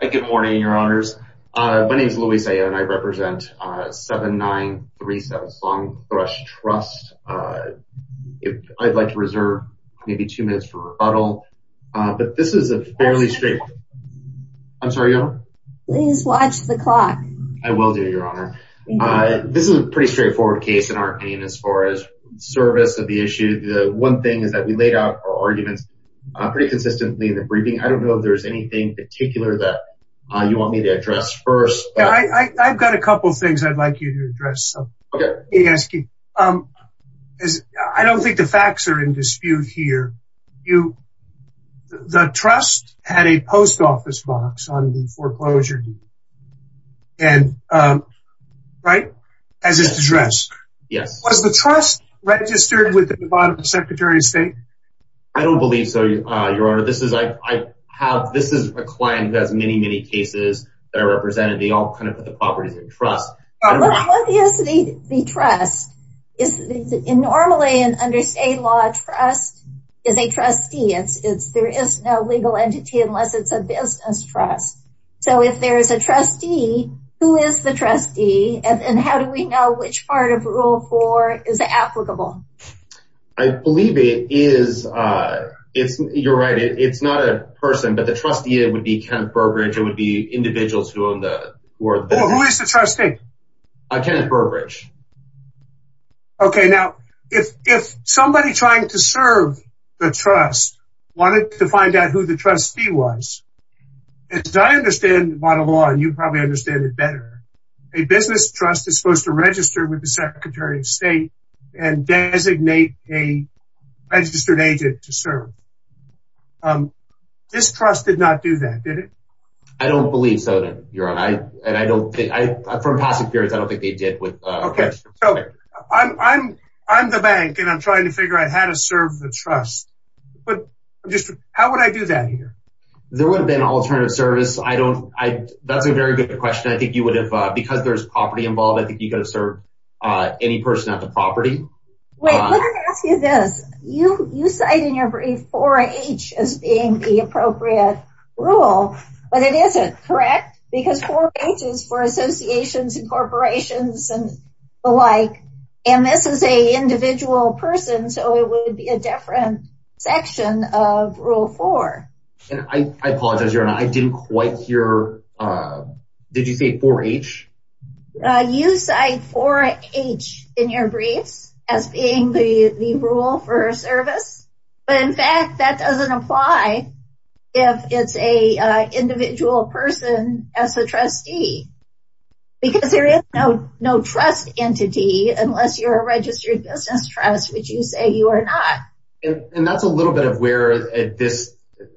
Good morning, Your Honors. My name is Luis Ayo, and I represent 7937 Song Thrush Trust. I'd like to reserve maybe two minutes for rebuttal, but this is a fairly straightforward case in our opinion as far as service of the issue. The one thing is that we laid out our arguments pretty consistently in the briefing. I don't know if there's anything in particular that you want me to address first. I've got a couple of things I'd like you to address. Okay. Let me ask you. I don't think the facts are in dispute here. The trust had a post office box on the foreclosure deed, right, as is addressed. Yes. Was the trust registered with the Secretary of State? I don't believe so, Your Honor. This is a client that has many, many cases that are represented. They all kind of put the properties in trust. What is the trust? Normally, under state law, trust is a trustee. There is no legal entity unless it's a business trust. If there is a trustee, who is the trustee and how do we know which part of Rule 4 is applicable? I believe it is. You're right. It's not a person, but the trustee would be Ken Burbridge. It would be individuals who own the board. Who is the trustee? Ken Burbridge. Okay. I understand the bottom line. You probably understand it better. A business trust is supposed to register with the Secretary of State and designate a registered agent to serve. This trust did not do that, did it? I don't believe so, Your Honor. From past experience, I don't think they did. Okay. I'm the bank, and I'm trying to figure out how to serve the trust. How would I do that here? There would have been alternative service. That's a very good question. I think you would have, because there's property involved, I think you could have served any person at the property. Wait, let me ask you this. You cite in your brief 4H as being the appropriate rule, but it isn't, correct? Because 4H is for associations and corporations and the like, and this is an individual person, so it would be a different section of Rule 4. I apologize, Your Honor. I didn't quite hear. Did you say 4H? You cite 4H in your briefs as being the rule for service, but, in fact, that doesn't apply if it's an individual person as a trustee, because there is no trust entity unless you're a registered business trust, which you say you are not. And that's a little bit of where this—and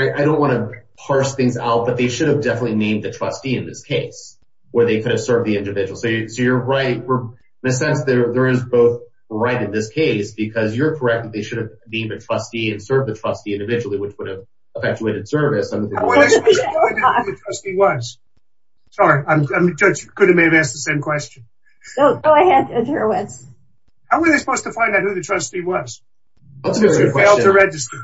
I don't want to parse things out, but they should have definitely named the trustee in this case where they could have served the individual. So you're right. In a sense, there is both right in this case, because you're correct that they should have named a trustee and served the trustee individually, which would have effectuated service. How were they supposed to find out who the trustee was? Sorry, the judge could have maybe asked the same question. Go ahead, Judge Horowitz. How were they supposed to find out who the trustee was? Because you failed to register.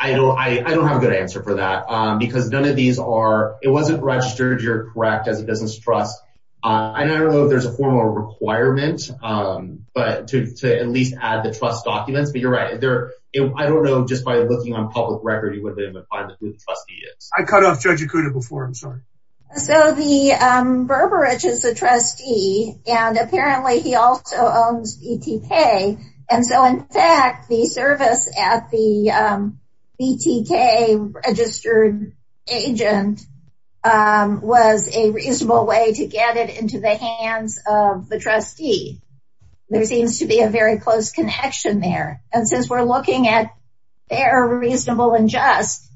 I don't have a good answer for that, because none of these are—it wasn't registered, you're correct, as a business trust. I don't know if there's a formal requirement to at least add the trust documents, but you're right. I don't know, just by looking on public record, you would have been able to find out who the trustee is. I cut off Judge Ikuda before. I'm sorry. So the Berberidge is a trustee, and apparently he also owns ETK. And so, in fact, the service at the ETK registered agent was a reasonable way to get it into the hands of the trustee. There seems to be a very close connection there. And since we're looking at fair, reasonable, and just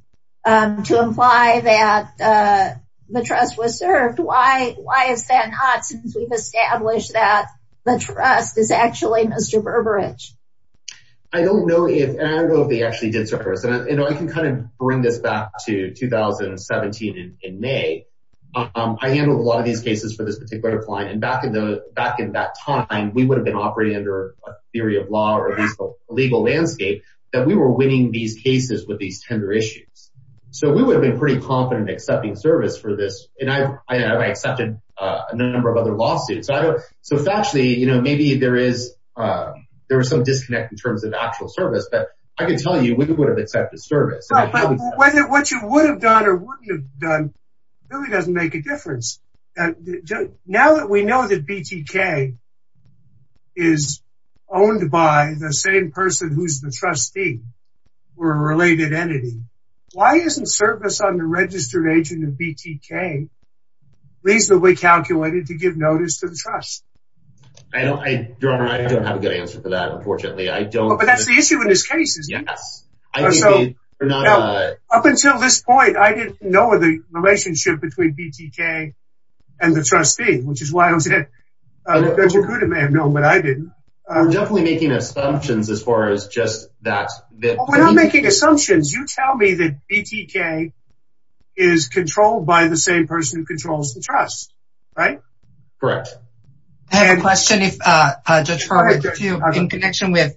to imply that the trust was served, why is that not, since we've established that the trust is actually Mr. Berberidge? I don't know if they actually did serve. I can kind of bring this back to 2017 in May. I handled a lot of these cases for this particular client. And back in that time, we would have been operating under a theory of law or at least a legal landscape that we were winning these cases with these tender issues. So we would have been pretty confident in accepting service for this. And I accepted a number of other lawsuits. So factually, maybe there is some disconnect in terms of actual service, but I can tell you we would have accepted service. But what you would have done or wouldn't have done really doesn't make a difference. Now that we know that BTK is owned by the same person who's the trustee or a related entity, why isn't service on the registered agent of BTK reasonably calculated to give notice to the trust? I don't have a good answer for that, unfortunately. But that's the issue in this case, isn't it? Yes. Up until this point, I didn't know the relationship between BTK and the trustee, which is why I was in it. You could have known, but I didn't. I'm definitely making assumptions as far as just that. We're not making assumptions. You tell me that BTK is controlled by the same person who controls the trust, right? Correct. I have a question in connection with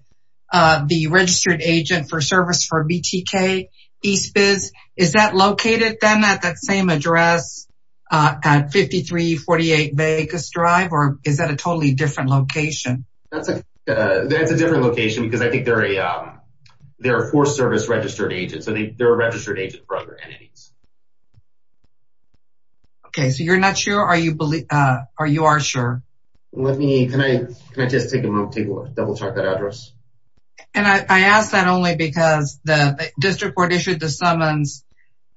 the registered agent for service for BTK, Eastbiz. Is that located then at that same address at 5348 Vegas Drive, or is that a totally different location? That's a different location because I think there are four service registered agents, and they're a registered agent for other entities. Okay, so you're not sure, or you are sure? Can I just take a moment to double-check that address? And I ask that only because the district court issued the summons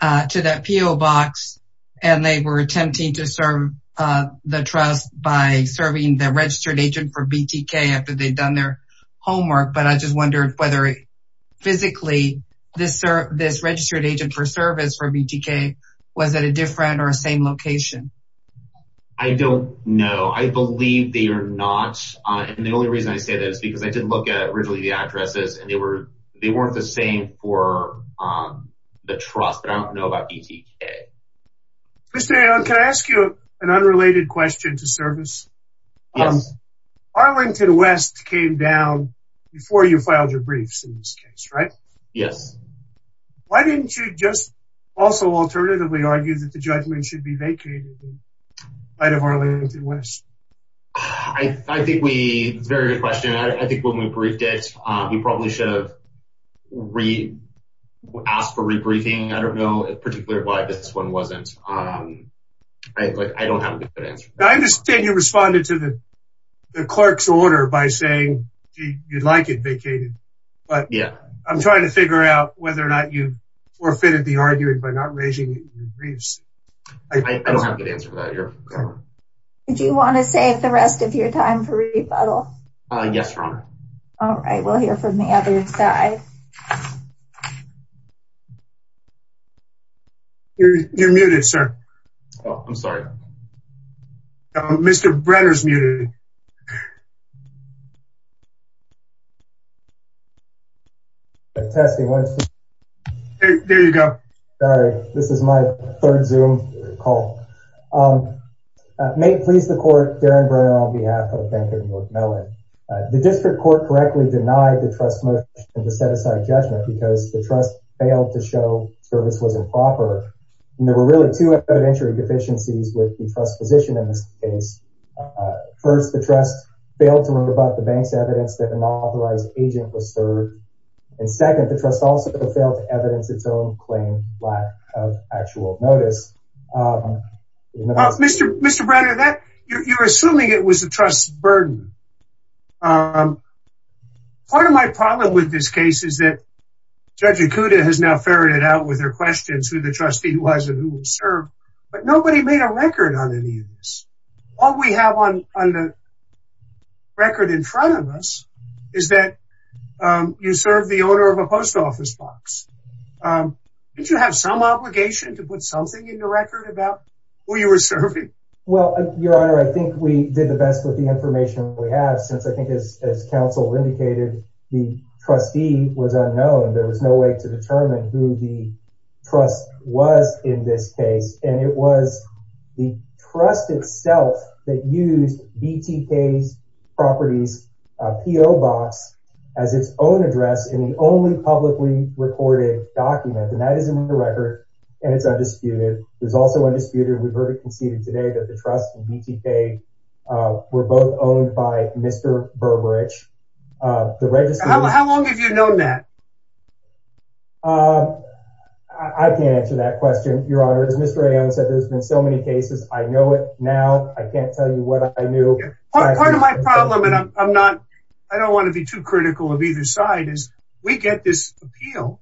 to that PO box, and they were attempting to serve the trust by serving the registered agent for BTK after they'd done their homework. But I just wondered whether physically this registered agent for service for BTK was at a different or same location. I don't know. I believe they are not. And the only reason I say that is because I did look at originally the addresses, and they weren't the same for the trust. I don't know about BTK. Mr. Aaron, can I ask you an unrelated question to service? Yes. Arlington West came down before you filed your briefs in this case, right? Yes. Why didn't you just also alternatively argue that the judgment should be vacated in light of Arlington West? I think it's a very good question. I think when we briefed it, we probably should have asked for rebriefing. I don't know particularly why this one wasn't. I don't have a good answer. I understand you responded to the clerk's order by saying you'd like it vacated. But I'm trying to figure out whether or not you forfeited the argument by not raising your briefs. I don't have a good answer for that, Your Honor. Do you want to save the rest of your time for rebuttal? Yes, Your Honor. All right. We'll hear from the other side. You're muted, sir. Oh, I'm sorry. Mr. Brenner's muted. Testing. There you go. Sorry. This is my third Zoom call. May it please the court, Darren Brenner on behalf of Bank of North Mellon. The district court correctly denied the trust motion to set aside judgment because the trust failed to show service was improper. And there were really two evidentiary deficiencies with the trust position in this case. First, the trust failed to rebut the bank's evidence that an unauthorized agent was served. And second, the trust also failed to evidence its own claim lack of actual notice. Mr. Brenner, you're assuming it was the trust's burden. Part of my problem with this case is that Judge Acuda has now ferreted out with her questions who the trustee was and who was served. But nobody made a record on any of this. All we have on the record in front of us is that you served the owner of a post office box. Didn't you have some obligation to put something in the record about who you were serving? Well, Your Honor, I think we did the best with the information we have. Since I think as counsel indicated, the trustee was unknown. There was no way to determine who the trust was in this case. And it was the trust itself that used BTK's properties PO box as its own address in the only publicly recorded document. And that is in the record and it's undisputed. There's also undisputed. We've heard it conceded today that the trust and BTK were both owned by Mr. Berberich. How long have you known that? I can't answer that question, Your Honor. As Mr. Aon said, there's been so many cases. I know it now. I can't tell you what I knew. Part of my problem, and I don't want to be too critical of either side, is we get this appeal.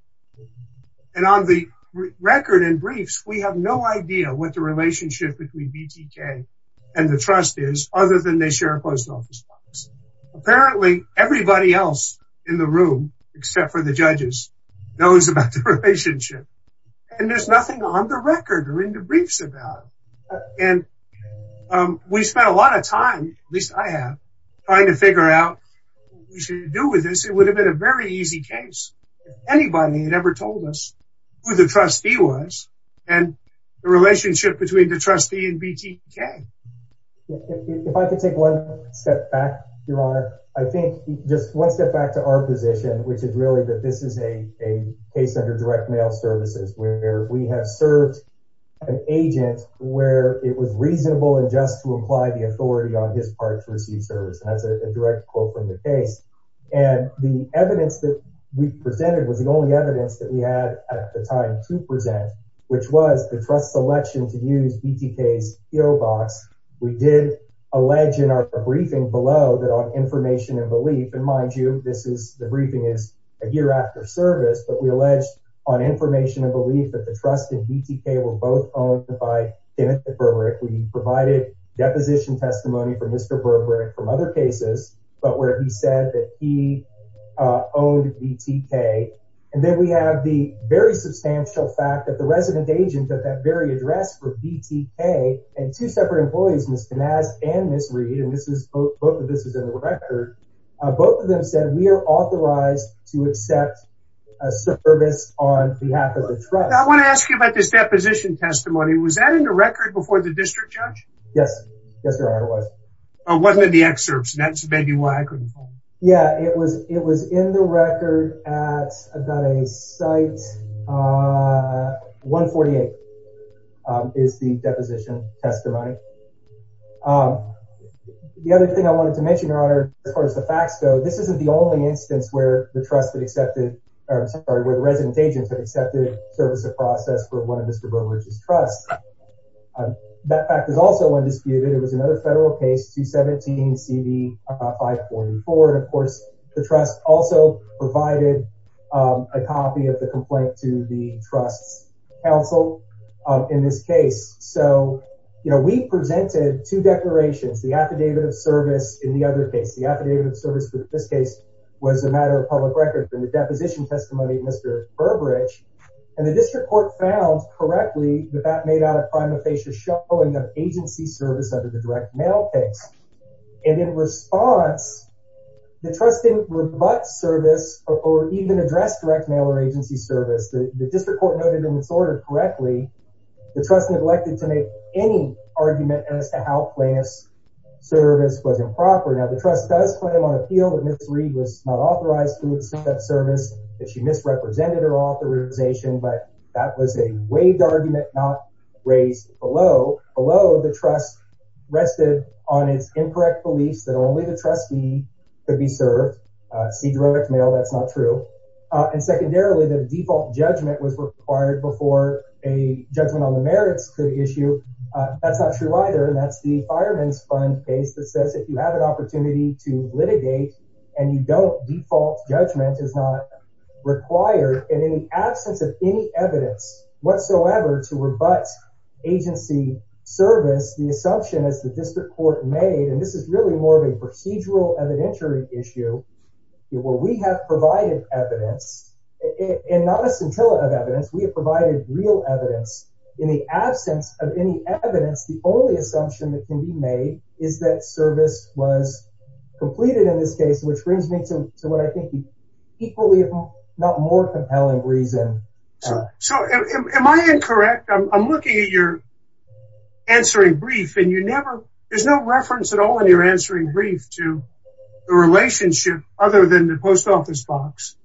And on the record and briefs, we have no idea what the relationship between BTK and the trust is other than they share a post office. Apparently, everybody else in the room, except for the judges, knows about the relationship. And there's nothing on the record or in the briefs about it. And we spent a lot of time, at least I have, trying to figure out what we should do with this. It would have been a very easy case. If anybody had ever told us who the trustee was and the relationship between the trustee and BTK. If I could take one step back, Your Honor. I think just one step back to our position, which is really that this is a case under direct mail services, where we have served an agent where it was reasonable and just to apply the authority on his part to receive service. And that's a direct quote from the case. And the evidence that we presented was the only evidence that we had at the time to present, which was the trust selection to use BTK's PO box. We did allege in our briefing below that on information and belief. And mind you, this is the briefing is a year after service. But we alleged on information and belief that the trust in BTK were both owned by Kenneth Burbrick. We provided deposition testimony for Mr. Burbrick from other cases. But where he said that he owned BTK. And then we have the very substantial fact that the resident agent at that very address for BTK and two separate employees, Ms. Canaz and Ms. Reed. And this is both of this is in the record. Both of them said we are authorized to accept a service on behalf of the trust. I want to ask you about this deposition testimony. Was that in the record before the district judge? Yes. Yes, Your Honor, it was. It wasn't in the excerpts. That's maybe why I couldn't find it. Yeah, it was. It was in the record at about a site. 148 is the deposition testimony. The other thing I wanted to mention, Your Honor, as far as the facts go, this isn't the only instance where the trust that accepted or where the resident agents have accepted service of process for one of Mr. Burbrick's trust. That fact is also undisputed. It was another federal case, 217 CD 544. And, of course, the trust also provided a copy of the complaint to the trust's counsel in this case. So, you know, we presented two declarations, the affidavit of service. In the other case, the affidavit of service for this case was a matter of public record. And the deposition testimony, Mr. Burbridge and the district court found correctly that that made out of the direct mail case. And in response, the trust didn't rebut service or even address direct mail or agency service. The district court noted in its order correctly the trust neglected to make any argument as to how plaintiff's service was improper. Now, the trust does claim on appeal that Ms. Reed was not authorized to receive that service, that she misrepresented her authorization, but that was a waived argument, not raised below. Below, the trust rested on its incorrect beliefs that only the trustee could be served. See direct mail, that's not true. And secondarily, the default judgment was required before a judgment on the merits could issue. That's not true either, and that's the Fireman's Fund case that says if you have an opportunity to litigate and you don't, default judgment is not required. And in the absence of any evidence whatsoever to rebut agency service, the assumption is the district court made, and this is really more of a procedural evidentiary issue, where we have provided evidence, and not a scintillant of evidence. We have provided real evidence. In the absence of any evidence, the only assumption that can be made is that service was completed in this case, which brings me to what I think is an equally, if not more, compelling reason. So am I incorrect? I'm looking at your answering brief, and there's no reference at all in your answering brief to the relationship other than the post office box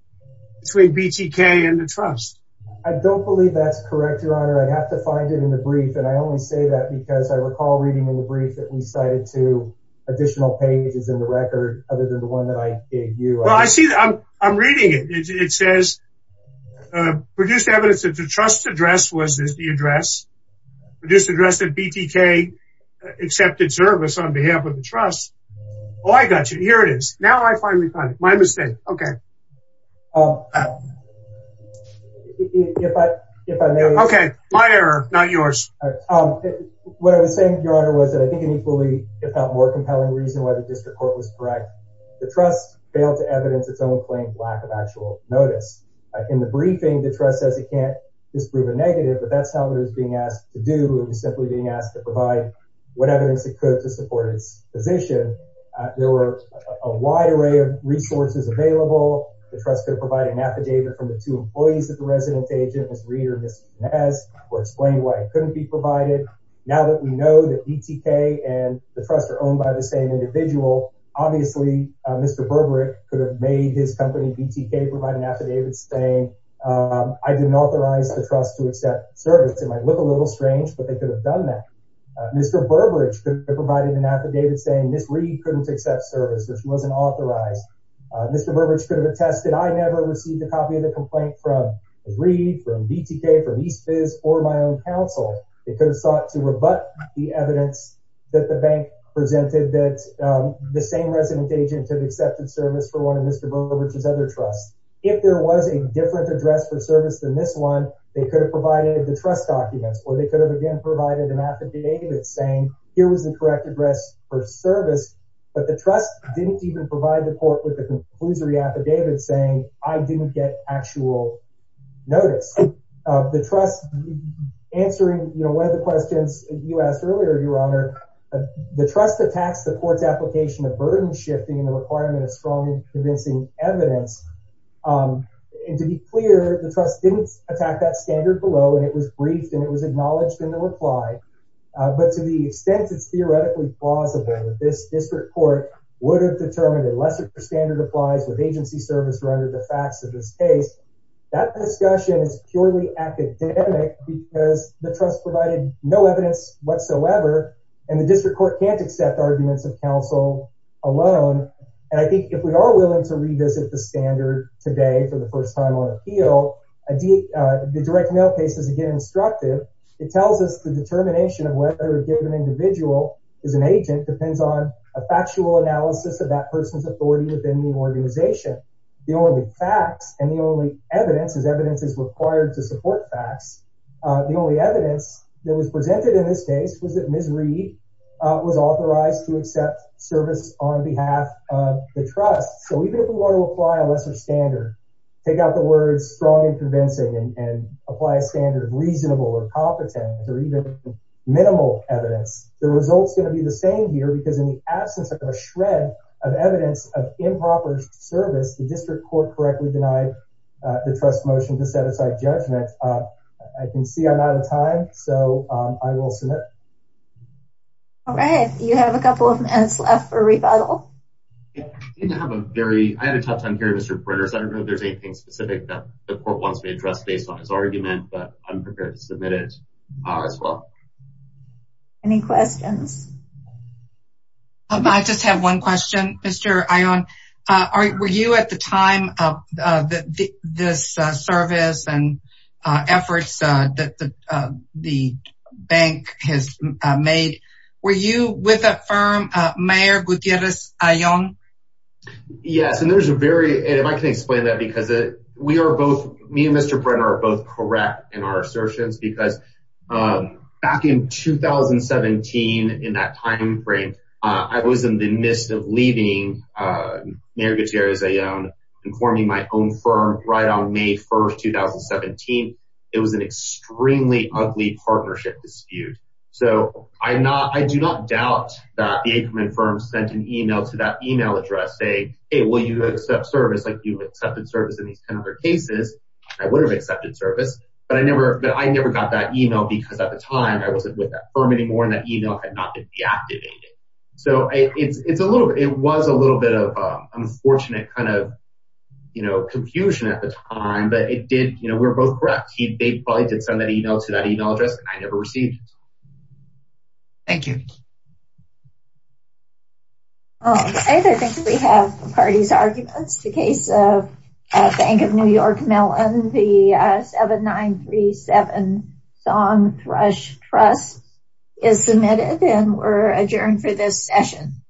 between BTK and the trust. I don't believe that's correct, Your Honor. I'd have to find it in the brief, and I only say that because I recall reading in the brief that we cited two additional pages in the record other than the one that I gave you. Well, I see that. I'm reading it. It says, produced evidence that the trust's address was the address, produced address that BTK accepted service on behalf of the trust. Oh, I got you. Here it is. Now I finally find it. My mistake. Okay. If I may... Okay, my error, not yours. What I was saying, Your Honor, was that I think an equally, if not more, compelling reason why the district court was correct. The trust failed to evidence its own claimed lack of actual notice. In the briefing, the trust says it can't disprove a negative, but that's not what it was being asked to do. It was simply being asked to provide what evidence it could to support its position. There were a wide array of resources available. The trust could have provided an affidavit from the two employees of the resident agent, Ms. Reed or Ms. Jimenez, who explained why it couldn't be provided. Now that we know that BTK and the trust are owned by the same individual, obviously Mr. Berberich could have made his company, BTK, provide an affidavit saying, I didn't authorize the trust to accept service. It might look a little strange, but they could have done that. Mr. Berberich could have provided an affidavit saying Ms. Reed couldn't accept service, or she wasn't authorized. Mr. Berberich could have attested, I never received a copy of the complaint from Ms. Reed, from BTK, from East Viz, or my own counsel. They could have sought to rebut the evidence that the bank presented, that the same resident agent had accepted service for one of Mr. Berberich's other trusts. If there was a different address for service than this one, they could have provided the trust documents, or they could have again provided an affidavit saying, here was the correct address for service, but the trust didn't even provide the court with a conclusory affidavit saying, I didn't get actual notice. The trust, answering one of the questions you asked earlier, Your Honor, the trust attacks the court's application of burden shifting and the requirement of strong and convincing evidence. And to be clear, the trust didn't attack that standard below, and it was briefed and it was acknowledged in the reply. But to the extent it's theoretically plausible, that this district court would have determined a lesser standard applies with agency service, or under the facts of this case, that discussion is purely academic because the trust provided no evidence whatsoever, and the district court can't accept arguments of counsel alone. And I think if we are willing to revisit the standard today for the first time on appeal, the direct mail case is again instructive. It tells us the determination of whether a given individual is an agent depends on a factual analysis of that person's authority within the organization. The only facts and the only evidence is evidence is required to support facts. The only evidence that was presented in this case was that Ms. Reid was authorized to accept service on behalf of the trust. So even if we want to apply a lesser standard, take out the words strongly convincing and apply a standard reasonable or competent or even minimal evidence, the results are going to be the same here because in the absence of a shred of evidence of improper service, the district court correctly denied the trust motion to set aside judgment. I can see I'm out of time, so I will submit. All right. You have a couple of minutes left for rebuttal. I have a very I had a tough time hearing Mr. I don't know if there's anything specific that the court wants to address based on his argument, but I'm prepared to submit it as well. Any questions? I just have one question, Mr. Ion, are you at the time of this service and efforts that the bank has made? Were you with a firm, Mayor Gutierrez Ion? Yes. And there's a very and if I can explain that because we are both me and Mr. Brenner are both correct in our assertions, because back in 2017, in that time frame, I was in the midst of leaving Mayor Gutierrez Ion and forming my own firm right on May 1st, 2017. It was an extremely ugly partnership dispute. So I'm not I do not doubt that the Aikman firm sent an email to that email address saying, hey, will you accept service? Like you accepted service in these kind of cases? I would have accepted service. But I never but I never got that email because at the time I wasn't with that firm anymore. And that email had not been deactivated. So it's a little it was a little bit of unfortunate kind of confusion at the time. But it did. You know, we're both correct. They probably did send that email to that email address and I never received it. Thank you. I think we have the party's arguments. The case of Bank of New York Mellon, the 7937 Song Thrush Trust is submitted and we're adjourned for this session.